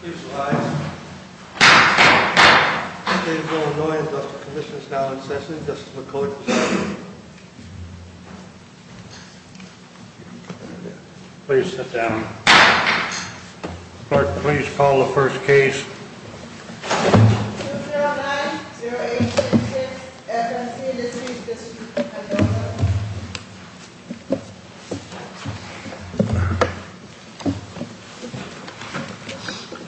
Please rise. Please no noise. The Commission is now in session. This is the Court. Please sit down. Clerk, please call the first case. 2090866 F&C Industries v. The Workers' Compensation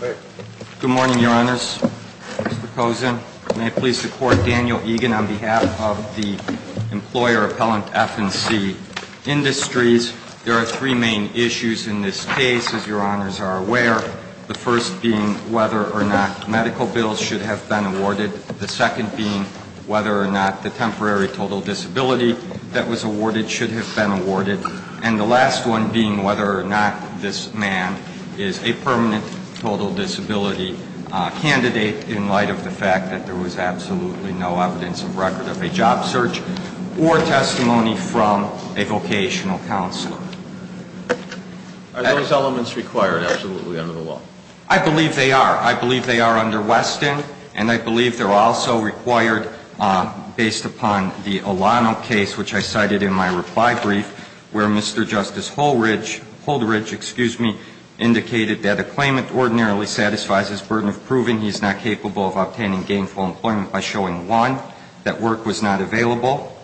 Commission Good morning, Your Honors. Mr. Kozin, may I please support Daniel Egan on behalf of the employer appellant F&C Industries. There are three main issues in this case, as Your Honors are aware. The first being whether or not medical bills should have been awarded. The second being whether or not the temporary total disability that was awarded should have been awarded. And the last one being whether or not this man is a permanent total disability candidate in light of the fact that there was absolutely no evidence of record of a job search or testimony from a vocational counselor. Are those elements required absolutely under the law? I believe they are. I believe they are under Weston. And I believe they're also required based upon the Olano case, which I cited in my reply brief, where Mr. Justice Holderidge indicated that a claimant ordinarily satisfies his burden of proving he is not capable of obtaining gainful employment by showing, one, that work was not available,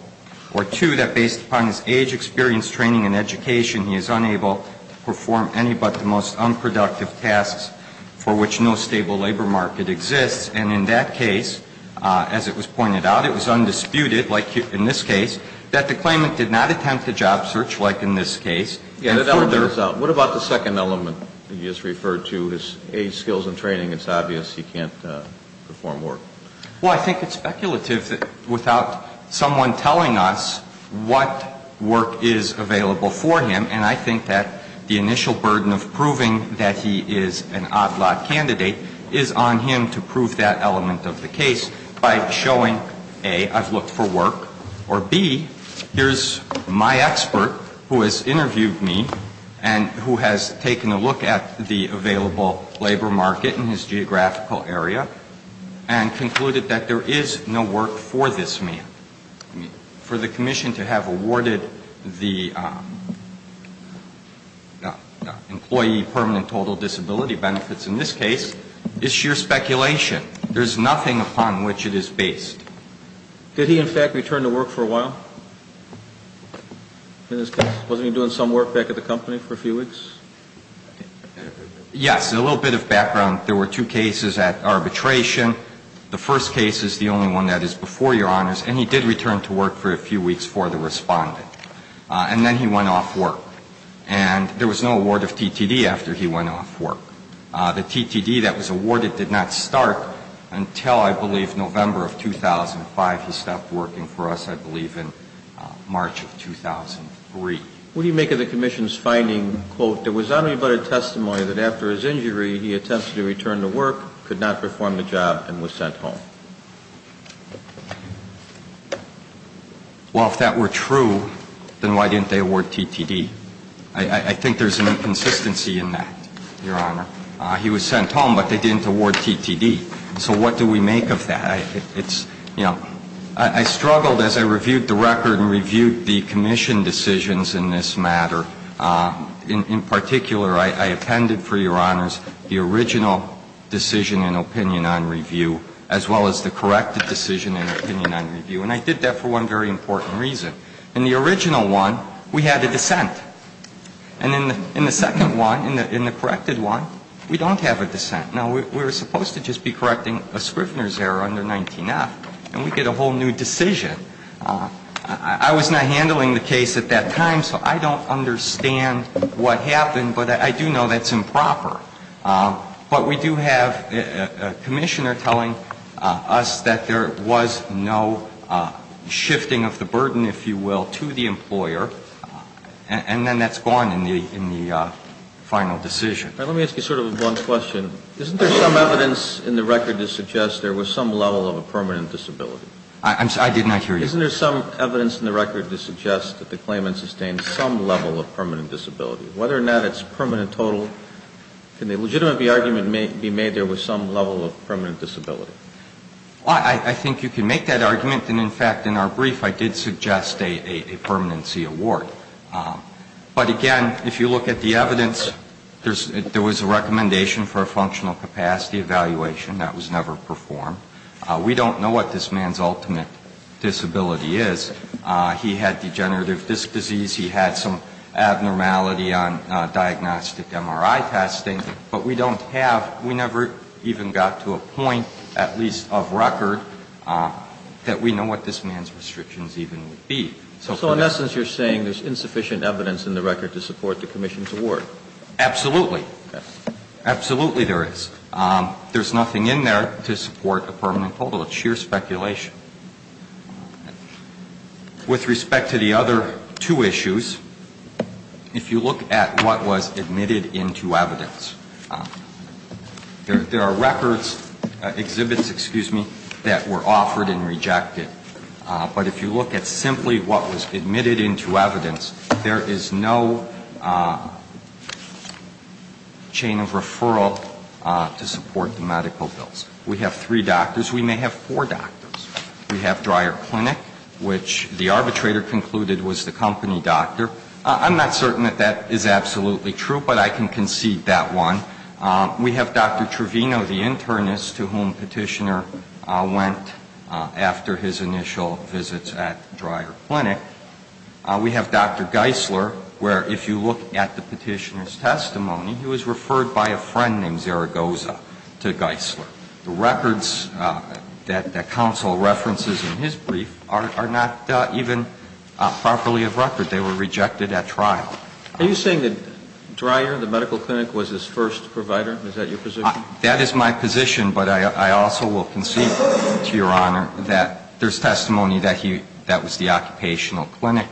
or, two, that based upon his age, experience, training, and education, he is unable to perform any but the most unproductive tasks for which no stable labor market exists. And in that case, as it was pointed out, it was undisputed, like in this case, that the claimant did not attempt a job search, like in this case. What about the second element that you just referred to, his age, skills, and training? It's obvious he can't perform work. Well, I think it's speculative that without someone telling us what work is available for him, and I think that the initial burden of proving that he is an odd-lot candidate is on him to prove that element of the case by showing, A, I've looked for work, or, B, here's my expert who has interviewed me and who has taken a look at the available labor market in his geographical area and concluded that there is no work for this man. For the commission to have awarded the employee permanent total disability benefits in this case is sheer speculation. There's nothing upon which it is based. Did he, in fact, return to work for a while in this case? Wasn't he doing some work back at the company for a few weeks? Yes. A little bit of background. There were two cases at arbitration. The first case is the only one that is before Your Honors, and he did return to work for a few weeks for the Respondent. And then he went off work. And there was no award of TTD after he went off work. The TTD that was awarded did not start until, I believe, November of 2005. He stopped working for us, I believe, in March of 2003. What do you make of the commission's finding, quote, there was not any but a testimony that after his injury he attempted to return to work, could not perform the job, and was sent home? Well, if that were true, then why didn't they award TTD? I think there's an inconsistency in that, Your Honor. He was sent home, but they didn't award TTD. So what do we make of that? I struggled as I reviewed the record and reviewed the commission decisions in this matter. In particular, I appended for Your Honors the original decision and opinion on review as well as the corrected decision and opinion on review. And I did that for one very important reason. In the original one, we had a dissent. And in the second one, in the corrected one, we don't have a dissent. Now, we were supposed to just be correcting a Scrivner's error under 19F. And we get a whole new decision. I was not handling the case at that time, so I don't understand what happened. But I do know that's improper. But we do have a commissioner telling us that there was no shifting of the burden, if you will, to the employer. And then that's gone in the final decision. Let me ask you sort of a blunt question. Isn't there some evidence in the record to suggest there was some level of a permanent disability? I did not hear you. Isn't there some evidence in the record to suggest that the claimant sustained some level of permanent disability? Whether or not it's permanent total, can the legitimate argument be made there was some level of permanent disability? I think you can make that argument. And, in fact, in our brief, I did suggest a permanency award. But, again, if you look at the evidence, there was a recommendation for a functional capacity evaluation. That was never performed. We don't know what this man's ultimate disability is. He had degenerative disc disease. He had some abnormality on diagnostic MRI testing. But we don't have, we never even got to a point, at least of record, that we know what this man's restrictions even would be. So, in essence, you're saying there's insufficient evidence in the record to support the commission's award? Absolutely. Absolutely there is. There's nothing in there to support a permanent total. It's sheer speculation. With respect to the other two issues, if you look at what was admitted into evidence, there are records, exhibits, excuse me, that were offered and rejected. But if you look at simply what was admitted into evidence, there is no chain of referral to support the medical bills. We have three doctors. We may have four doctors. We have Dreyer Clinic, which the arbitrator concluded was the company doctor. I'm not certain that that is absolutely true, but I can concede that one. We have Dr. Trevino, the internist to whom Petitioner went after his initial visits at Dreyer Clinic. We have Dr. Geisler, where if you look at the Petitioner's testimony, he was referred by a friend named Zaragoza to Geisler. The records that counsel references in his brief are not even properly of record. They were rejected at trial. Are you saying that Dreyer, the medical clinic, was his first provider? Is that your position? That is my position, but I also will concede to Your Honor that there's testimony that he – that was the occupational clinic.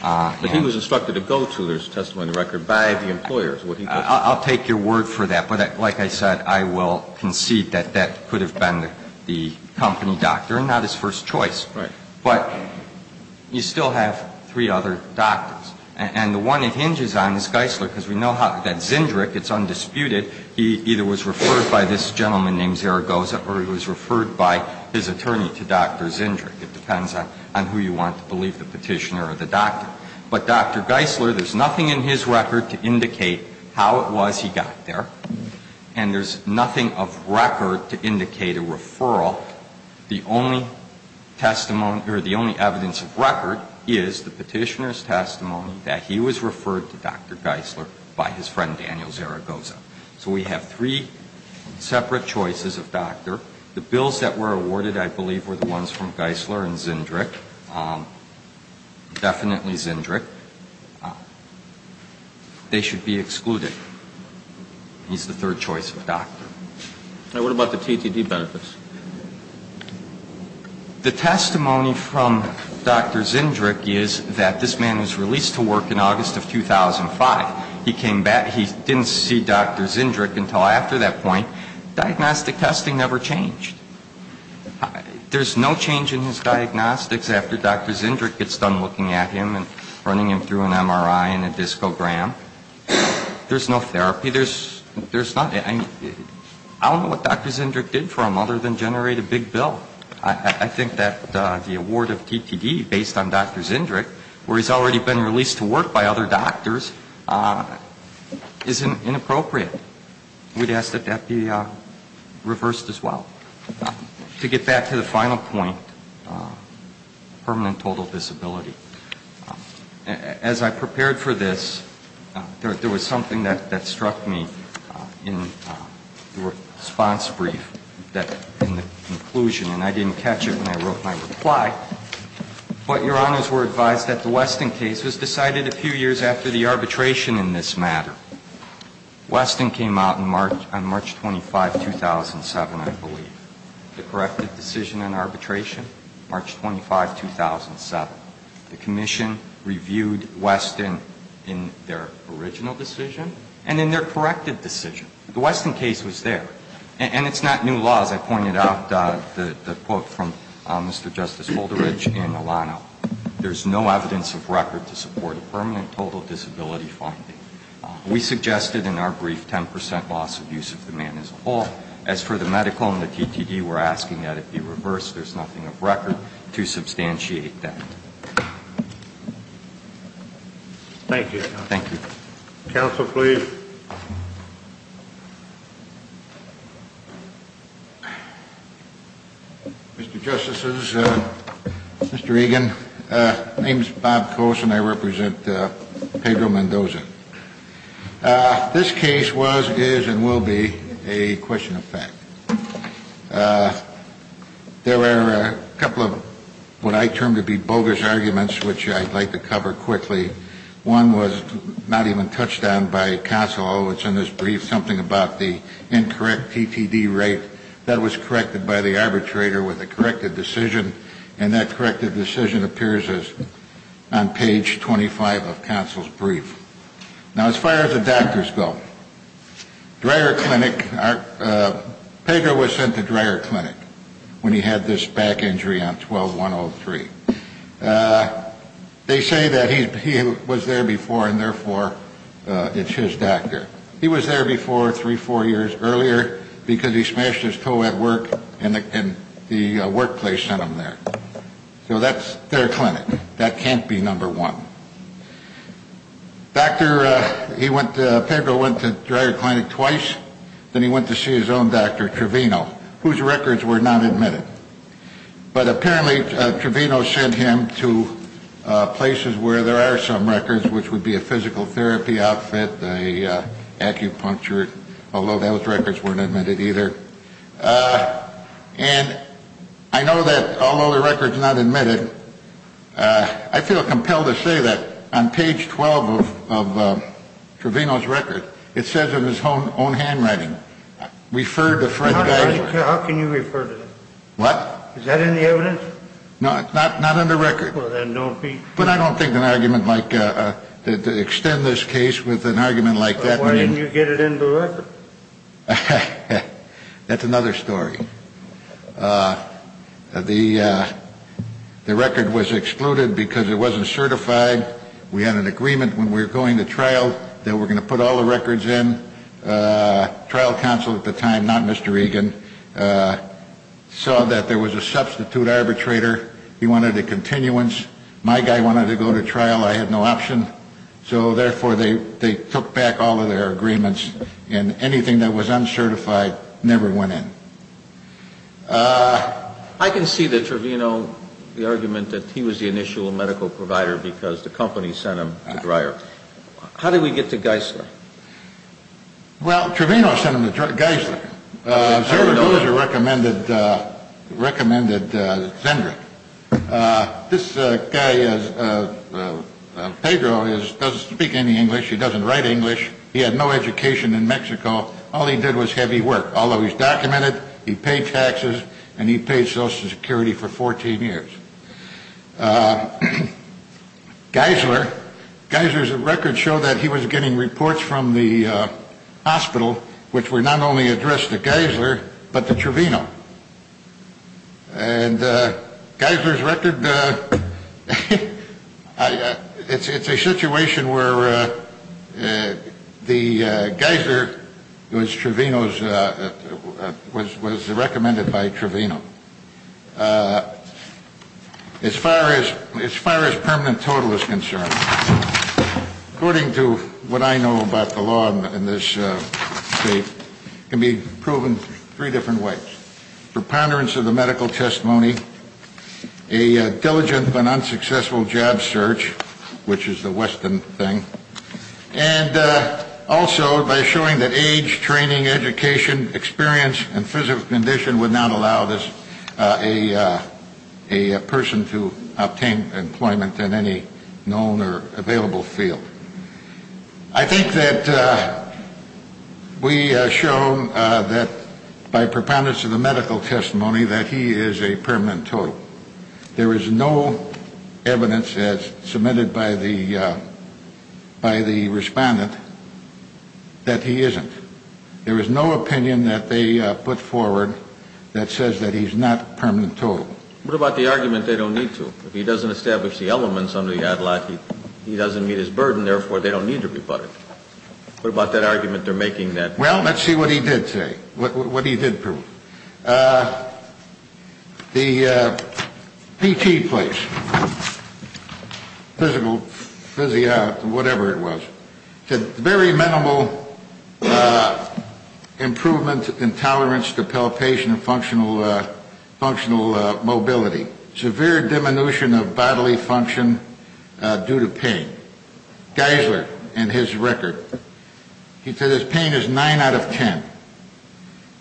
But he was instructed to go to his testimony record by the employer. I'll take your word for that, but like I said, I will concede that that could have been the company doctor and not his first choice. Right. But you still have three other doctors. And the one it hinges on is Geisler, because we know that Zindrich, it's undisputed, he either was referred by this gentleman named Zaragoza or he was referred by his attorney to Dr. Zindrich. It depends on who you want to believe, the Petitioner or the doctor. But Dr. Geisler, there's nothing in his record to indicate how it was he got there, and there's nothing of record to indicate a referral. Well, the only testimony – or the only evidence of record is the Petitioner's testimony that he was referred to Dr. Geisler by his friend Daniel Zaragoza. So we have three separate choices of doctor. The bills that were awarded, I believe, were the ones from Geisler and Zindrich, definitely Zindrich. They should be excluded. He's the third choice of doctor. Now, what about the TTD benefits? The testimony from Dr. Zindrich is that this man was released to work in August of 2005. He came back. He didn't see Dr. Zindrich until after that point. Diagnostic testing never changed. There's no change in his diagnostics after Dr. Zindrich gets done looking at him and running him through an MRI and a discogram. There's no therapy. I don't know what Dr. Zindrich did for him other than generate a big bill. I think that the award of TTD based on Dr. Zindrich, where he's already been released to work by other doctors, is inappropriate. We'd ask that that be reversed as well. To get back to the final point, permanent total disability. As I prepared for this, there was something that struck me in the response brief, in the conclusion, and I didn't catch it when I wrote my reply. But Your Honors were advised that the Weston case was decided a few years after the arbitration in this matter. Weston came out on March 25, 2007, I believe. The corrected decision in arbitration, March 25, 2007. The commission reviewed Weston in their original decision and in their corrected decision. The Weston case was there. And it's not new law. As I pointed out, the quote from Mr. Justice Holderidge and Alano, there's no evidence of record to support a permanent total disability finding. We suggested in our brief 10% loss of use of the man as a whole. As for the medical and the TTD, we're asking that it be reversed. There's nothing of record to substantiate that. Thank you. Thank you. Counsel, please. Mr. Justices, Mr. Regan, my name is Bob Coase and I represent Pedro Mendoza. This case was, is and will be a question of fact. There were a couple of what I term to be bogus arguments, which I'd like to cover quickly. One was not even touched on by counsel. It's in this brief something about the incorrect TTD rate that was corrected by the arbitrator with a corrected decision. And that corrected decision appears on page 25 of counsel's brief. Now, as far as the doctors go, Dreyer Clinic, Pedro was sent to Dreyer Clinic when he had this back injury on 12-103. They say that he was there before and, therefore, it's his doctor. He was there before three, four years earlier because he smashed his toe at work and the workplace sent him there. So that's their clinic. That can't be number one. Doctor, he went to, Pedro went to Dreyer Clinic twice. Then he went to see his own doctor, Trevino, whose records were not admitted. But apparently Trevino sent him to places where there are some records, which would be a physical therapy outfit, an acupuncture, although those records weren't admitted either. And I know that although the record's not admitted, I feel compelled to say that on page 12 of Trevino's record, it says in his own handwriting, referred to Fred Dreyer. How can you refer to that? What? Is that in the evidence? No, not in the record. Well, then don't be. But I don't think an argument like to extend this case with an argument like that. Why didn't you get it in the record? That's another story. The record was excluded because it wasn't certified. We had an agreement when we were going to trial that we were going to put all the records in. Trial counsel at the time, not Mr. Egan, saw that there was a substitute arbitrator. He wanted a continuance. My guy wanted to go to trial. I had no option. So, therefore, they took back all of their agreements, and anything that was uncertified never went in. I can see the Trevino, the argument that he was the initial medical provider because the company sent him to Dreyer. How did we get to Geisler? Well, Trevino sent him to Geisler. Zerdoz recommended Zendrick. This guy, Pedro, doesn't speak any English. He doesn't write English. He had no education in Mexico. All he did was heavy work. Although he's documented, he paid taxes, and he paid Social Security for 14 years. Geisler's records show that he was getting reports from the hospital which were not only addressed to Geisler but to Trevino. And Geisler's record, it's a situation where Geisler was recommended by Trevino. As far as permanent total is concerned, according to what I know about the law in this state, it can be proven three different ways, preponderance of the medical testimony, a diligent but unsuccessful job search, which is the Western thing, and also by showing that age, training, education, experience, and physical condition would not allow a person to obtain employment in any known or available field. I think that we have shown that by preponderance of the medical testimony that he is a permanent total. There is no evidence, as submitted by the respondent, that he isn't. There is no opinion that they put forward that says that he's not permanent total. What about the argument they don't need to? If he doesn't establish the elements under the ad lib, he doesn't meet his burden, therefore they don't need to be buttered. What about that argument they're making that- Well, let's see what he did say, what he did prove. The PT place, physical, physio, whatever it was, very minimal improvement in tolerance to palpation and functional mobility, severe diminution of bodily function due to pain. Geisler, in his record, he said his pain is nine out of ten.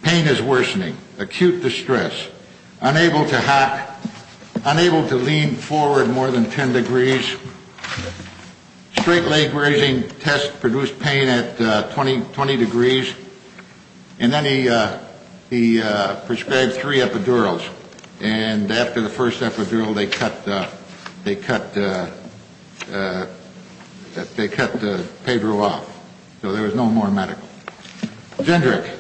Pain is worsening, acute distress, unable to hop, unable to lean forward more than ten degrees, straight leg raising test produced pain at 20 degrees, and then he prescribed three epidurals, and after the first epidural, they cut Pedro off. So there was no more medical. Zendrick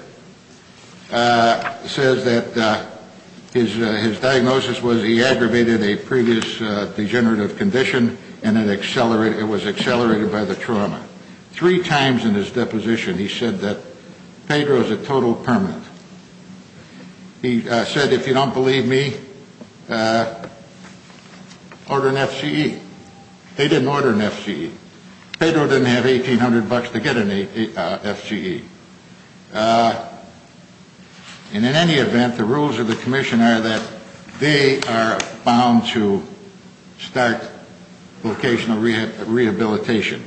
says that his diagnosis was he aggravated a previous degenerative condition, and it was accelerated by the trauma. Three times in his deposition he said that Pedro is a total permanent. He said, if you don't believe me, order an FCE. They didn't order an FCE. Pedro didn't have $1,800 to get an FCE. And in any event, the rules of the commission are that they are bound to start vocational rehabilitation.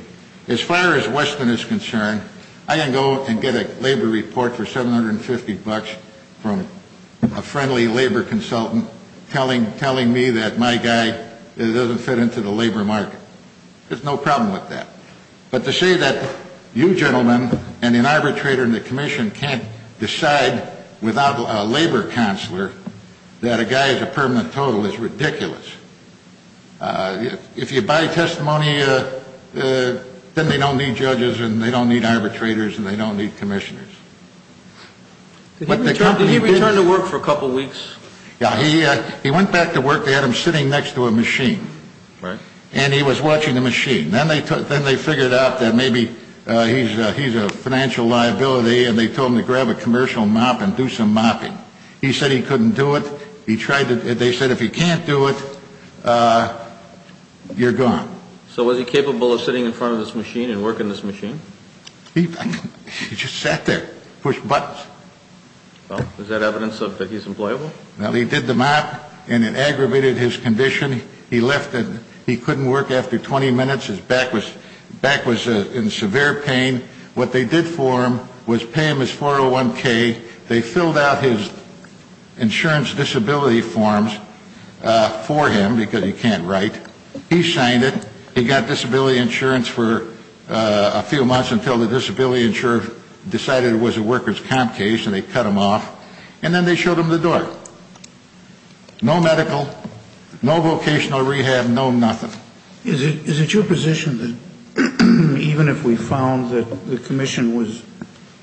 As far as Weston is concerned, I can go and get a labor report for $750 from a friendly labor consultant telling me that my guy doesn't fit into the labor market. There's no problem with that. But to say that you gentlemen and an arbitrator in the commission can't decide without a labor counselor that a guy is a permanent total is ridiculous. If you buy testimony, then they don't need judges and they don't need arbitrators and they don't need commissioners. Did he return to work for a couple weeks? Yeah. He went back to work. They had him sitting next to a machine. Right. And he was watching the machine. Then they figured out that maybe he's a financial liability and they told him to grab a commercial mop and do some mopping. He said he couldn't do it. They said if he can't do it, you're gone. So was he capable of sitting in front of this machine and working this machine? He just sat there, pushed buttons. Well, is that evidence that he's employable? Well, he did the mop and it aggravated his condition. He left and he couldn't work after 20 minutes. His back was in severe pain. What they did for him was pay him his 401K. They filled out his insurance disability forms for him because he can't write. He signed it. He got disability insurance for a few months until the disability insurer decided it was a worker's comp case so they cut him off, and then they showed him the door. No medical, no vocational rehab, no nothing. Is it your position that even if we found that the commission was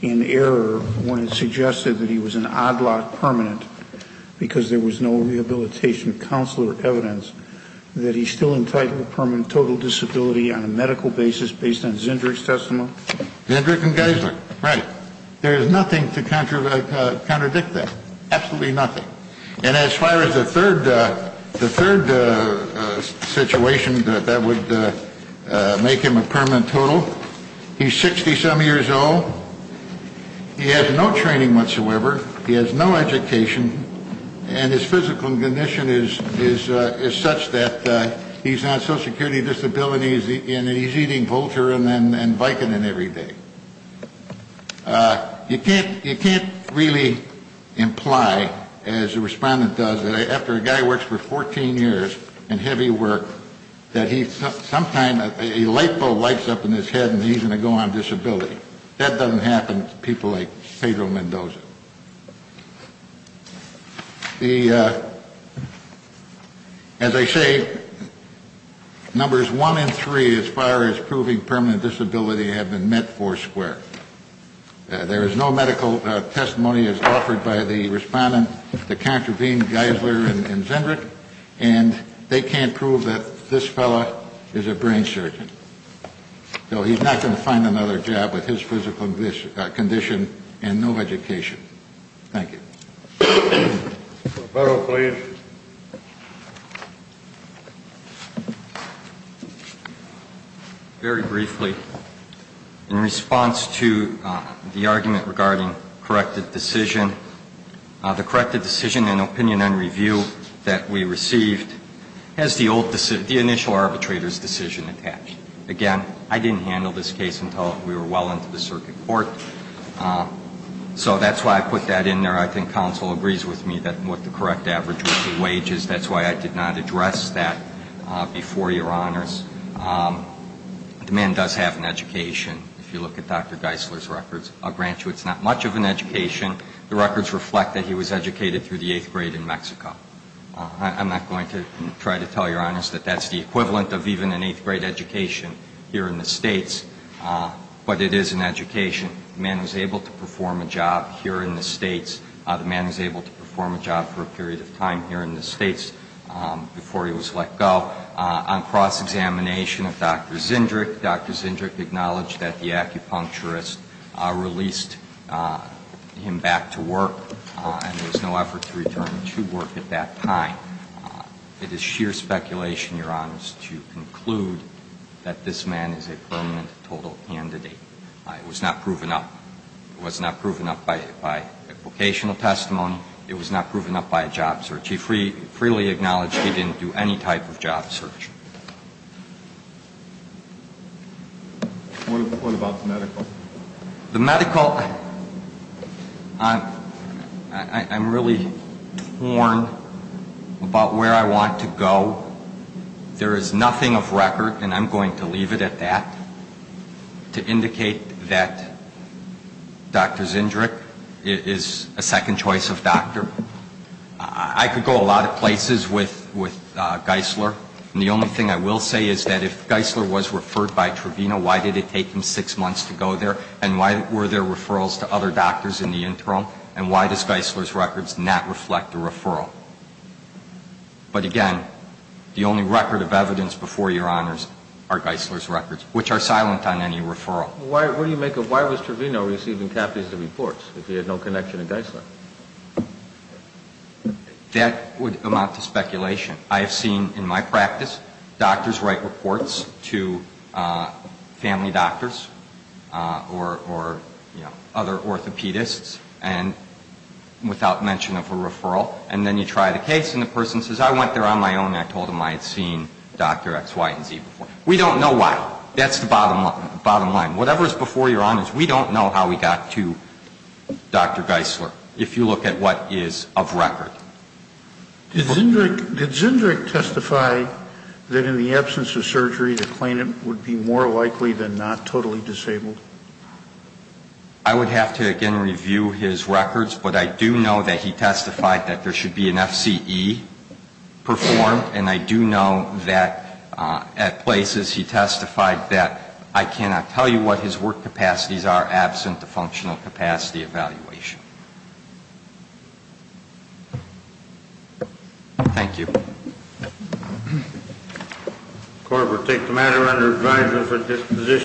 in error when it suggested that he was an odd lot permanent because there was no rehabilitation counselor evidence, that he's still entitled to permanent total disability on a medical basis based on Zendrick's testimony? Zendrick and Geisler. Right. There is nothing to contradict that. Absolutely nothing. And as far as the third situation that would make him a permanent total, he's 60-some years old. He has no training whatsoever. He has no education. And his physical condition is such that he's on Social Security disability and he's eating Voltaren and Vicodin every day. You can't really imply, as the respondent does, that after a guy works for 14 years in heavy work, that he sometime a light bulb lights up in his head and he's going to go on disability. That doesn't happen to people like Pedro Mendoza. The, as I say, numbers one and three as far as proving permanent disability have been met four square. There is no medical testimony as offered by the respondent to contravene Geisler and Zendrick, and they can't prove that this fellow is a brain surgeon. So he's not going to find another job with his physical condition and no education. Thank you. Barrow, please. Very briefly, in response to the argument regarding corrected decision, the corrected decision in opinion and review that we received has the old, the initial arbitrator's decision attached. Again, I didn't handle this case until we were well into the circuit court. So that's why I put that in there. I think counsel agrees with me that what the correct average would be wages. That's why I did not address that before Your Honors. The man does have an education. If you look at Dr. Geisler's records, I'll grant you it's not much of an education. The records reflect that he was educated through the eighth grade in Mexico. I'm not going to try to tell Your Honors that that's the equivalent of even an eighth grade education here in the states, but it is an education. The man was able to perform a job here in the states. The man was able to perform a job for a period of time here in the states before he was let go. On cross-examination of Dr. Zindrick, Dr. Zindrick acknowledged that the acupuncturist released him back to work and there was no effort to return him to work at that time. It is sheer speculation, Your Honors, to conclude that this man is a permanent, total candidate. It was not proven up. It was not proven up by vocational testimony. It was not proven up by a job search. He freely acknowledged he didn't do any type of job search. What about the medical? The medical, I'm really torn about where I want to go. There is nothing of record, and I'm going to leave it at that, to indicate that Dr. Zindrick is a second choice of doctor. I could go a lot of places with Geisler, and the only thing I will say is that if Geisler was referred by Trevino, why did it take him six months to go there, and why were there referrals to other doctors in the interim, and why does Geisler's records not reflect the referral? But again, the only record of evidence before Your Honors are Geisler's records, which are silent on any referral. Well, what do you make of why was Trevino receiving copies of reports if he had no connection to Geisler? That would amount to speculation. I have seen in my practice doctors write reports to family doctors or other orthopedists without mention of a referral, and then you try the case, and the person says, I went there on my own, and I told them I had seen Dr. X, Y, and Z before. We don't know why. That's the bottom line. Whatever is before Your Honors, we don't know how he got to Dr. Geisler if you look at what is of record. Did Zindrick testify that in the absence of surgery, the claimant would be more likely than not totally disabled? I would have to, again, review his records, but I do know that he testified that there should be an FCE performed, and I do know that at places he testified that, I cannot tell you what his work capacities are absent the functional capacity evaluation. Thank you. Court will take the matter under advisory for disposition.